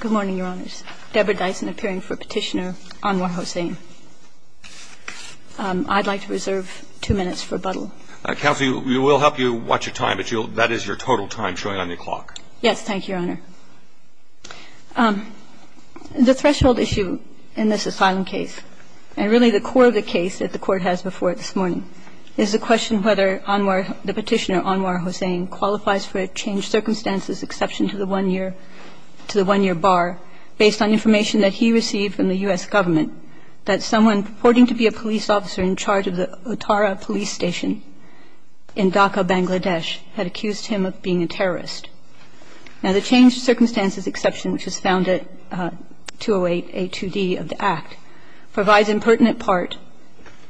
Good morning, Your Honors. Deborah Dyson appearing for Petitioner Anwar Hossain. I'd like to reserve two minutes for Buttle. Counsel, we will help you watch your time, but that is your total time showing on your clock. Yes, thank you, Your Honor. The threshold issue in this asylum case, and really the core of the case that the Court has before it this morning, is the question whether the Petitioner Anwar Hossain qualifies for a changed-circumstances exception to the one-year bar based on information that he received from the U.S. government that someone purporting to be a police officer in charge of the Uttara police station in Dhaka, Bangladesh, had accused him of being a terrorist. Now, the changed-circumstances exception, which was found at 208A2D of the Act, provides impertinent part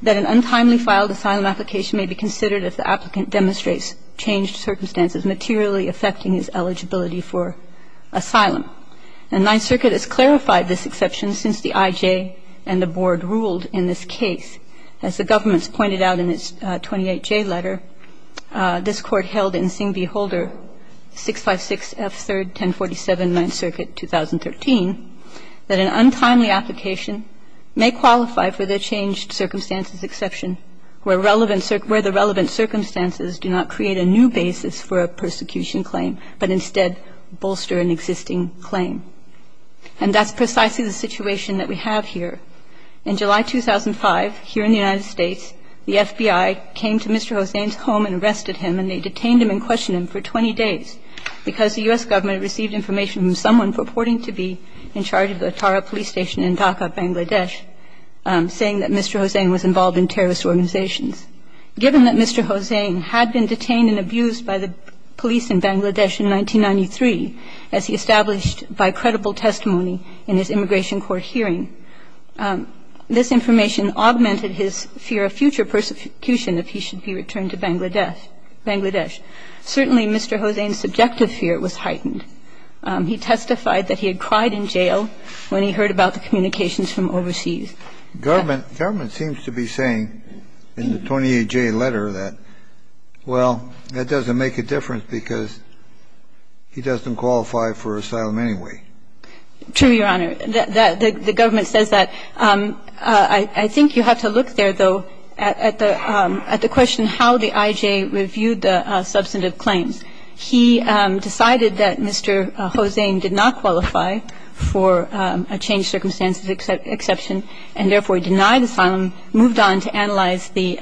that an untimely filed asylum application may be considered if the applicant demonstrates changed circumstances materially affecting his eligibility for asylum. And Ninth Circuit has clarified this exception since the IJ and the Board ruled in this case. As the government's pointed out in its 28J letter, this Court held in Singh v. Holder, 656F31047, 2013, that an untimely application may qualify for the changed-circumstances exception where the relevant circumstances do not create a new basis for a persecution claim, but instead bolster an existing claim. And that's precisely the situation that we have here. In July 2005, here in the United States, the FBI came to Mr. Hossain's home and arrested him, and they detained him and questioned him for 20 days because the U.S. government received information from someone purporting to be in charge of the Uttara police station in Dhaka, Bangladesh, saying that Mr. Hossain was involved in terrorist organizations. Given that Mr. Hossain had been detained and abused by the police in Bangladesh in 1993, as he established by credible testimony in his immigration court hearing, this information augmented his fear of future persecution if he should be returned to Bangladesh. Certainly, Mr. Hossain's subjective fear was heightened. He testified that he had cried in jail when he heard about the communications from overseas. Government seems to be saying in the 28J letter that, well, that doesn't make a difference because he doesn't qualify for asylum anyway. True, Your Honor. The government says that. I think you have to look there, though, at the question how the IJ reviewed the substantive claims. He decided that Mr. Hossain did not qualify for a changed circumstances exception, and therefore denied asylum, moved on to analyze the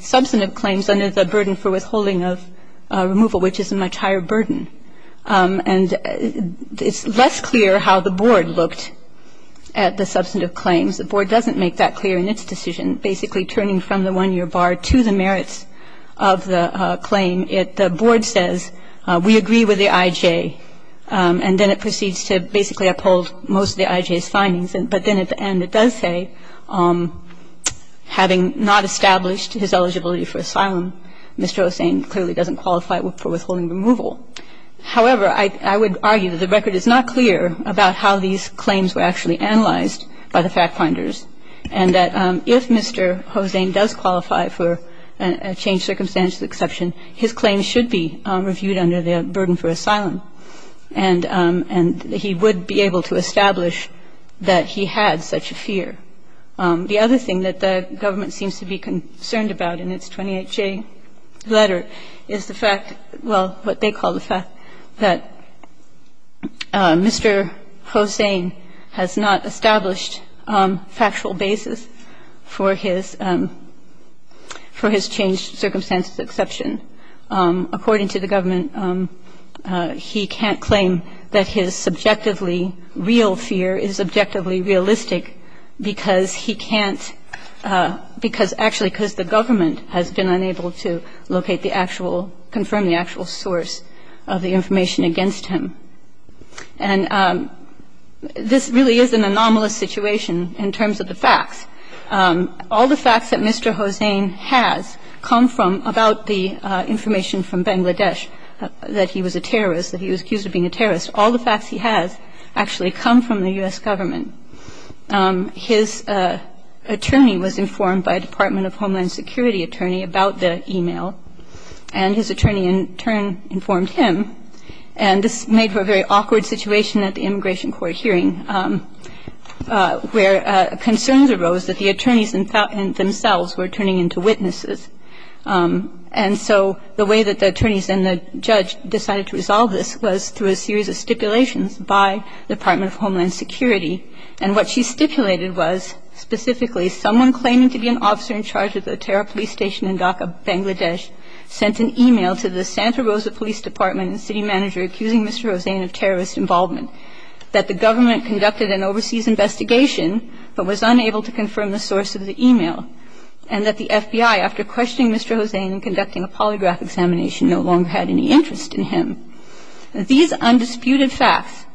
substantive claims under the burden for withholding of removal, which is a much higher burden. And it's less clear how the board looked at the substantive claims. The board doesn't make that clear in its decision. Basically, turning from the one-year bar to the merits of the claim, the board says, we agree with the IJ, and then it proceeds to basically uphold most of the IJ's findings. But then at the end it does say, having not established his eligibility for asylum, Mr. Hossain clearly doesn't qualify for withholding removal. However, I would argue that the record is not clear about how these claims were actually analyzed by the factfinders and that if Mr. Hossain does qualify for a changed circumstances exception, his claims should be reviewed under the burden for asylum. And he would be able to establish that he had such a fear. The other thing that the government seems to be concerned about in its 28J letter is the fact, well, what they call the fact that Mr. Hossain has not established factual basis for his changed circumstances exception. According to the government, he can't claim that his subjectively real fear is subjectively realistic because he can't, because actually because the government has been unable to locate the actual, confirm the actual source of the information against him. And this really is an anomalous situation in terms of the facts. All the facts that Mr. Hossain has come from about the information from Bangladesh that he was a terrorist, that he was accused of being a terrorist, all the facts he has actually come from the U.S. government. His attorney was informed by Department of Homeland Security attorney about the e-mail and his attorney in turn informed him. And this made for a very awkward situation at the immigration court hearing where concerns arose that the attorneys themselves were turning into witnesses. And so the way that the attorneys and the judge decided to resolve this was through a series of stipulations by the Department of Homeland Security. And what she stipulated was specifically someone claiming to be an officer in charge of the terror police station in Dhaka, Bangladesh, sent an e-mail to the Santa Rosa Police Department and city manager accusing Mr. Hossain of terrorist involvement, that the government conducted an overseas investigation but was unable to confirm the source of the e-mail, and that the FBI, after questioning Mr. Hossain and conducting a polygraph examination, no longer had any interest in him. These undisputed facts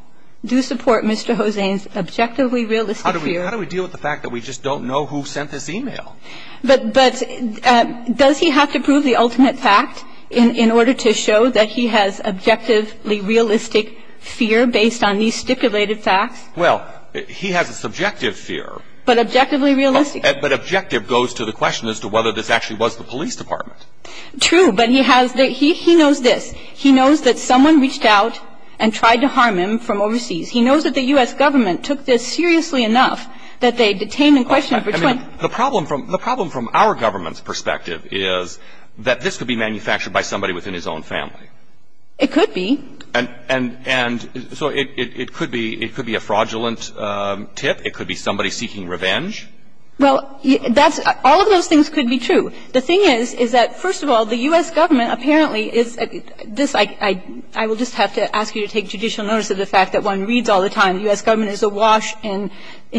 do support Mr. Hossain's objectively realistic fear. How do we deal with the fact that we just don't know who sent this e-mail? But does he have to prove the ultimate fact in order to show that he has objectively realistic fear based on these stipulated facts? Well, he has a subjective fear. But objectively realistic? But objective goes to the question as to whether this actually was the police department. True, but he has the – he knows this. He knows that someone reached out and tried to harm him from overseas. He knows that the U.S. government took this seriously enough that they detained and questioned him for 20 years. I mean, the problem from – the problem from our government's perspective is that this could be manufactured by somebody within his own family. It could be. And so it could be – it could be a fraudulent tip. It could be somebody seeking revenge. Well, that's – all of those things could be true. The thing is, is that, first of all, the U.S. government apparently is – this, I will just have to ask you to take judicial notice of the fact that one reads all the time the U.S. government is awash in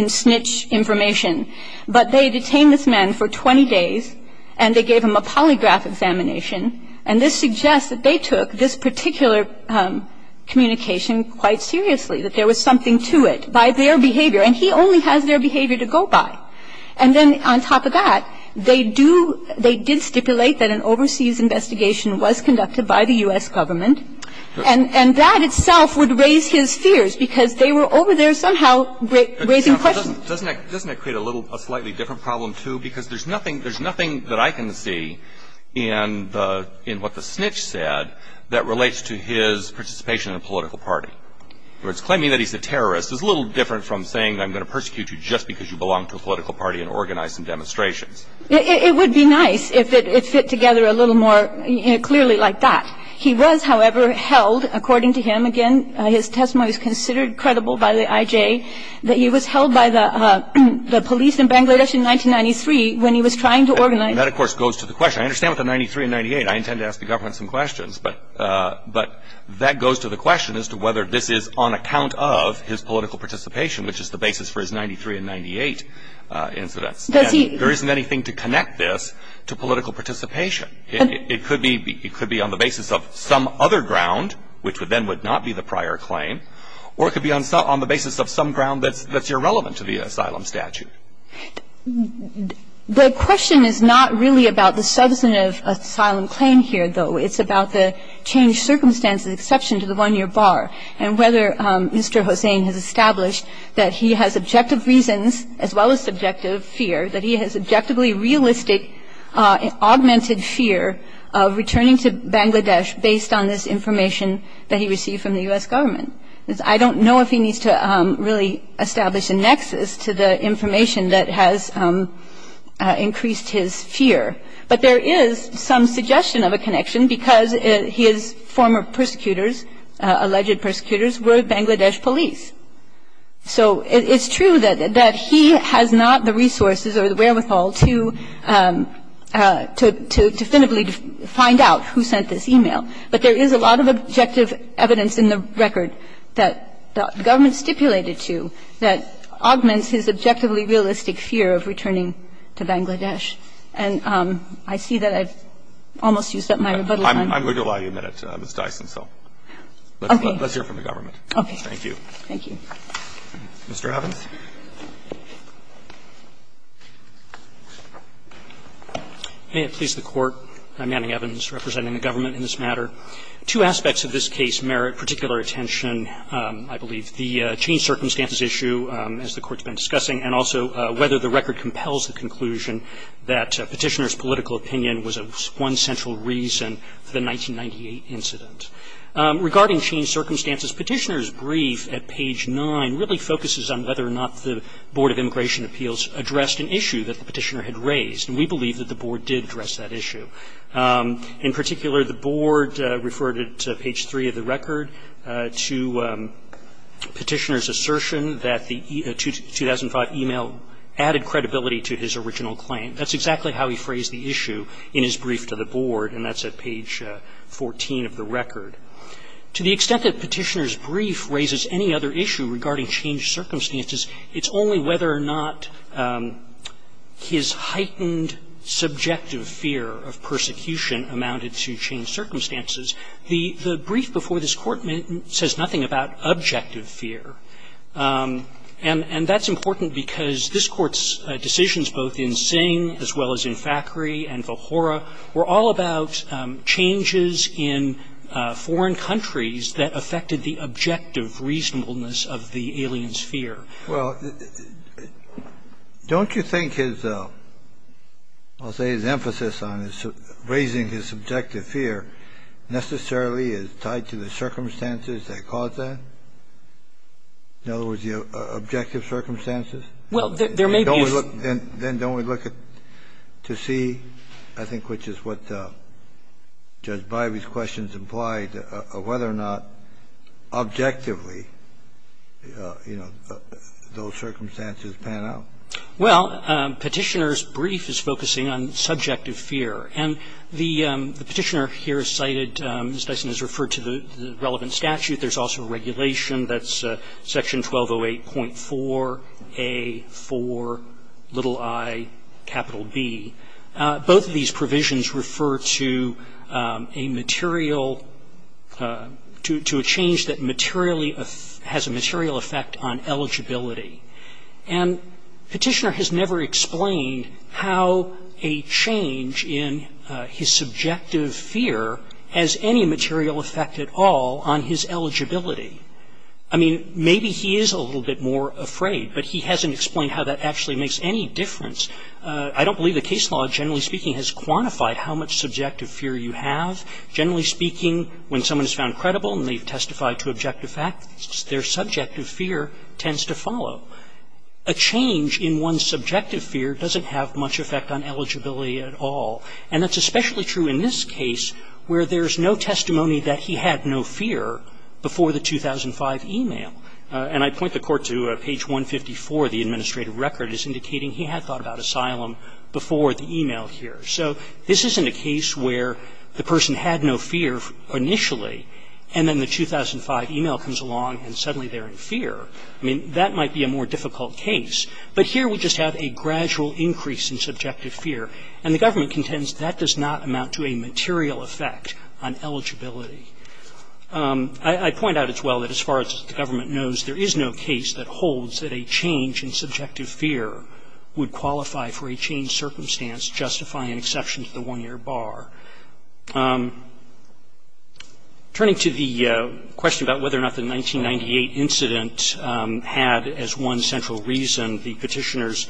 snitch information. But they detained this man for 20 days, and they gave him a polygraph examination. And this suggests that they took this particular communication quite seriously, that there was something to it by their behavior. And he only has their behavior to go by. And then on top of that, they do – they did stipulate that an overseas investigation was conducted by the U.S. government. And that itself would raise his fears, because they were over there somehow raising questions. Doesn't that create a little – a slightly different problem, too? Because there's nothing – there's nothing that I can see in the – in what the snitch said that relates to his participation in a political party. In other words, claiming that he's a terrorist is a little different from saying I'm going to persecute you just because you belong to a political party and organize some demonstrations. It would be nice if it fit together a little more clearly like that. He was, however, held – according to him, again, his testimony was considered credible by the I.J. – that he was held by the police in Bangladesh in 1993 when he was trying to organize – And that, of course, goes to the question. I understand with the 93 and 98, I intend to ask the government some questions. But that goes to the question as to whether this is on account of his political participation, which is the basis for his 93 and 98 incidents. Does he – And there isn't anything to connect this to political participation. It could be on the basis of some other ground, which then would not be the prior claim, or it could be on the basis of some ground that's irrelevant to the asylum statute. The question is not really about the substantive asylum claim here, though. It's about the changed circumstances, the exception to the one-year bar, and whether or not this is on account of his political participation. So I don't know if he needs to really establish a nexus to the information that has increased his fear. But there is some suggestion of a connection, because his former persecutors, But there is some suggestion of a connection, because his former prosecutors, So it's true that he has not the resources or the wherewithal to definitively find out who sent this e-mail. find out who sent this e-mail. But there is a lot of objective evidence in the record that the government stipulated to that augments his objectively realistic fear of returning to Bangladesh. And I see that I've almost used up my rebuttal time. I'm going to allow you a minute, Ms. Dyson. Let's hear from the government. Thank you. Thank you. Mr. Evans. May it please the Court. I'm Manning Evans, representing the government in this matter. Two aspects of this case merit particular attention, I believe. The changed circumstances issue, as the Court's been discussing, and also whether the record compels the conclusion that Petitioner's political opinion was one central reason for the 1998 incident. Regarding changed circumstances, Petitioner's brief at page 9 really focuses on whether or not the Board of Immigration Appeals addressed an issue that the Petitioner had raised. And we believe that the Board did address that issue. In particular, the Board referred at page 3 of the record to Petitioner's email added credibility to his original claim. That's exactly how he phrased the issue in his brief to the Board. And that's at page 14 of the record. To the extent that Petitioner's brief raises any other issue regarding changed circumstances, it's only whether or not his heightened subjective fear of persecution amounted to changed circumstances. The brief before this Court says nothing about objective fear. And that's important because this Court's decisions, both in Singh as well as in Fakhry and Vohora, were all about changes in foreign countries that affected the objective reasonableness of the alien's fear. Well, don't you think his emphasis on raising his subjective fear necessarily is tied to the circumstances that caused that? In other words, the objective circumstances? Well, there may be a few. Then don't we look to see, I think, which is what Judge Bivey's questions implied, whether or not objectively, you know, those circumstances pan out? Well, Petitioner's brief is focusing on subjective fear. And the Petitioner here cited, as Dyson has referred to, the relevant statute. There's also regulation. That's Section 1208.4a)(4)(i)(B). Both of these provisions refer to a material, to a change that materially has a material effect on eligibility. And Petitioner has never explained how a change in his subjective fear has any material effect at all on his eligibility. I mean, maybe he is a little bit more afraid, but he hasn't explained how that actually makes any difference. I don't believe the case law, generally speaking, has quantified how much subjective fear you have. Generally speaking, when someone is found credible and they've testified to a change in one's subjective fear doesn't have much effect on eligibility at all. And that's especially true in this case where there's no testimony that he had no fear before the 2005 e-mail. And I point the Court to page 154 of the administrative record as indicating he had thought about asylum before the e-mail here. So this isn't a case where the person had no fear initially, and then the 2005 e-mail comes along and suddenly they're in fear. I mean, that might be a more difficult case, but here we just have a gradual increase in subjective fear. And the government contends that does not amount to a material effect on eligibility. I point out as well that as far as the government knows, there is no case that holds that a change in subjective fear would qualify for a changed circumstance justifying exception to the one-year bar. Turning to the question about whether or not the 1998 incident had as one central reason the Petitioner's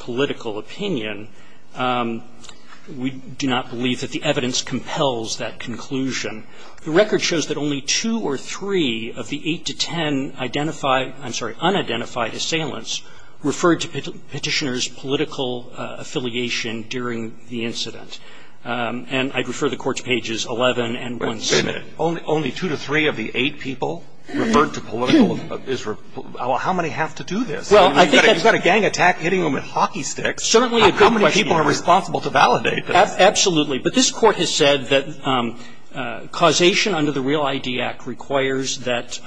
political opinion, we do not believe that the evidence compels that conclusion. The record shows that only two or three of the eight to ten unidentified assailants referred to Petitioner's political affiliation during the incident. And I'd refer the Court to pages 11 and 1c. Wait a minute. Only two to three of the eight people referred to political is referred to? How many have to do this? I mean, you've got a gang attack hitting them with hockey sticks. Certainly a good question. How many people are responsible to validate this? Absolutely. But this Court has said that causation under the Real ID Act requires that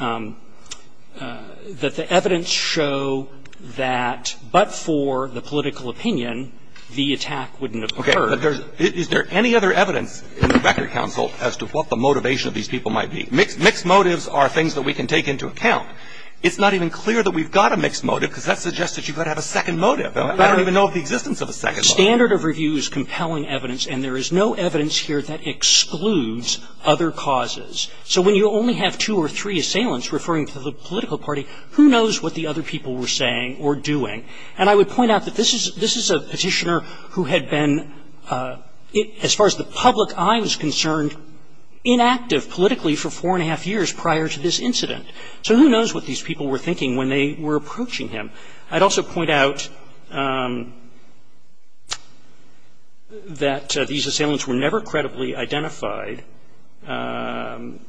the evidence show that but for the political opinion, the attack wouldn't have occurred. But is there any other evidence in the Record Council as to what the motivation of these people might be? Mixed motives are things that we can take into account. It's not even clear that we've got a mixed motive because that suggests that you've got to have a second motive. I don't even know of the existence of a second motive. Standard of review is compelling evidence, and there is no evidence here that excludes other causes. So when you only have two or three assailants referring to the political party, who knows what the other people were saying or doing? And I would point out that this is a Petitioner who had been, as far as the public eye was concerned, inactive politically for four and a half years prior to this incident. So who knows what these people were thinking when they were approaching him? I'd also point out that these assailants were never credibly identified. And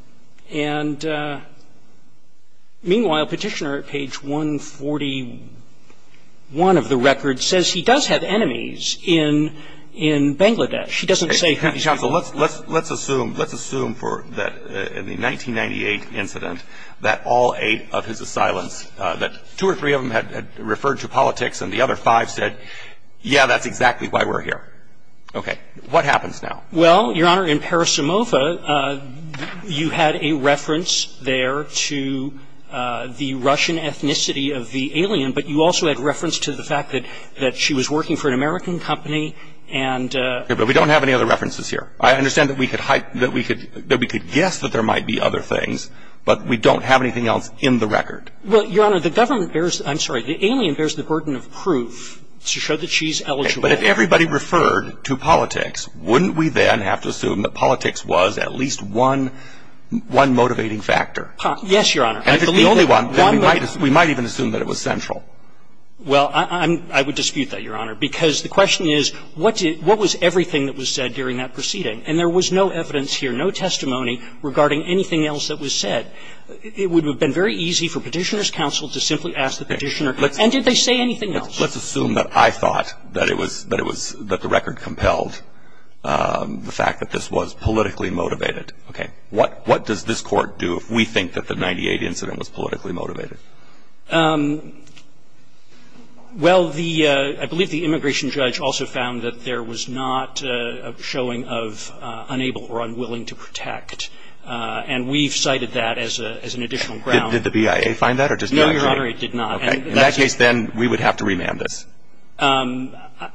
meanwhile, Petitioner at page 141 of the Record says he does have enemies in Bangladesh. He doesn't say who these people were. Counsel, let's assume, let's assume for the 1998 incident that all eight of his assailants, that two or three of them had referred to politics and the other five said, yeah, that's exactly why we're here. Okay. What happens now? Well, Your Honor, in Parasimova, you had a reference there to the Russian ethnicity of the alien, but you also had reference to the fact that she was working for an American company and ---- Okay. But we don't have any other references here. I understand that we could guess that there might be other things, but we don't have anything else in the Record. Well, Your Honor, the government bears, I'm sorry, the alien bears the burden of proof to show that she's eligible. But if everybody referred to politics, wouldn't we then have to assume that politics was at least one motivating factor? Yes, Your Honor. And if it's the only one, then we might even assume that it was central. Well, I would dispute that, Your Honor, because the question is, what was everything that was said during that proceeding? And there was no evidence here, no testimony regarding anything else that was said. It would have been very easy for Petitioner's counsel to simply ask the Petitioner, and did they say anything else? Well, let's assume that I thought that it was, that it was, that the Record compelled the fact that this was politically motivated. Okay. What does this Court do if we think that the 98 incident was politically motivated? Well, the, I believe the immigration judge also found that there was not a showing of unable or unwilling to protect. And we've cited that as an additional ground. Did the BIA find that, or did the FBI? No, Your Honor, it did not. Okay. In that case, then, we would have to remand this. I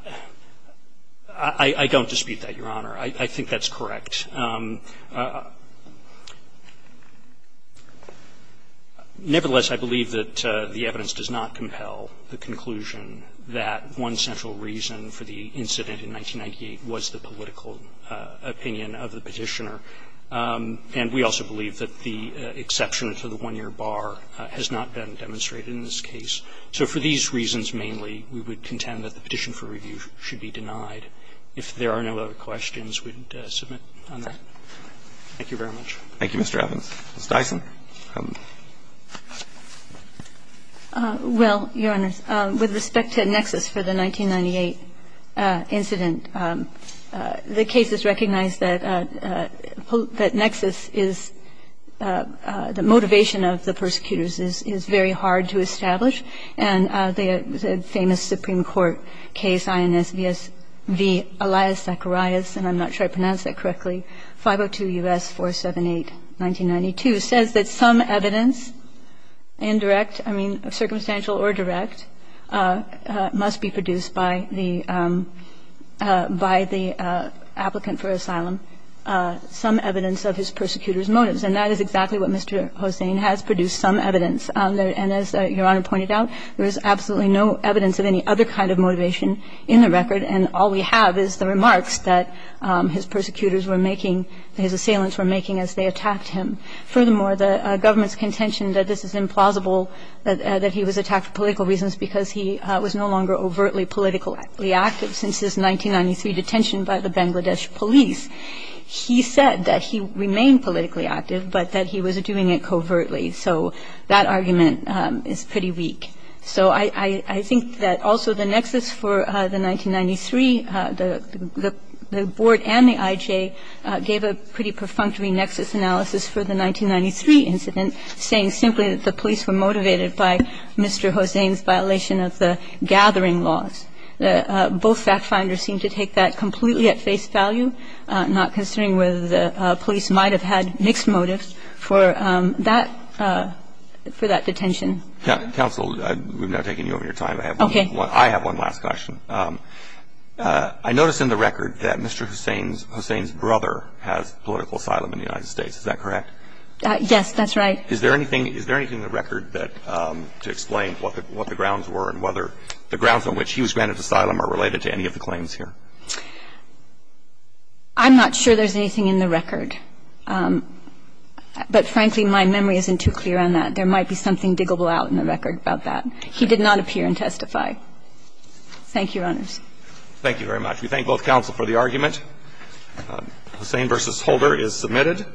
don't dispute that, Your Honor. I think that's correct. Nevertheless, I believe that the evidence does not compel the conclusion that one central reason for the incident in 1998 was the political opinion of the Petitioner. And we also believe that the exception to the one-year bar has not been demonstrated in this case. So for these reasons mainly, we would contend that the petition for review should be denied. If there are no other questions, we'd submit on that. Thank you very much. Thank you, Mr. Evans. Ms. Dyson. Well, Your Honor, with respect to Nexus for the 1998 incident, the case is recognized that Nexus is the motivation of the persecutors is very hard to establish. And the famous Supreme Court case INSVS v. Elias Zacharias, and I'm not sure I pronounced that correctly, 502 U.S. 478, 1992, says that some evidence, indirect, I mean, circumstantial or direct, must be produced by the applicant for asylum, some evidence of his persecutors' motives. And that is exactly what Mr. Hossain has produced, some evidence. And as Your Honor pointed out, there is absolutely no evidence of any other kind of motivation in the record, and all we have is the remarks that his persecutors were making, that his assailants were making as they attacked him. Furthermore, the government's contention that this is implausible, that he was attacked for political reasons because he was no longer overtly politically active since his 1993 detention by the Bangladesh police. He said that he remained politically active, but that he was doing it covertly. So that argument is pretty weak. So I think that also the Nexus for the 1993, the board and the IJ gave a pretty perfunctory Nexus analysis for the 1993 incident, saying simply that the police were motivated by Mr. Hossain's violation of the gathering laws. Both factfinders seem to take that completely at face value, not considering whether the police might have had mixed motives for that detention. Counsel, we've now taken you over your time. Okay. I have one last question. I noticed in the record that Mr. Hossain's brother has political asylum in the United States. Is that correct? Yes, that's right. Is there anything in the record that to explain what the grounds were and whether the grounds on which he was granted asylum are related to any of the claims here? I'm not sure there's anything in the record. But frankly, my memory isn't too clear on that. There might be something diggable out in the record about that. He did not appear and testify. Thank you, Your Honors. Thank you very much. We thank both counsel for the argument. Hossain v. Holder is submitted.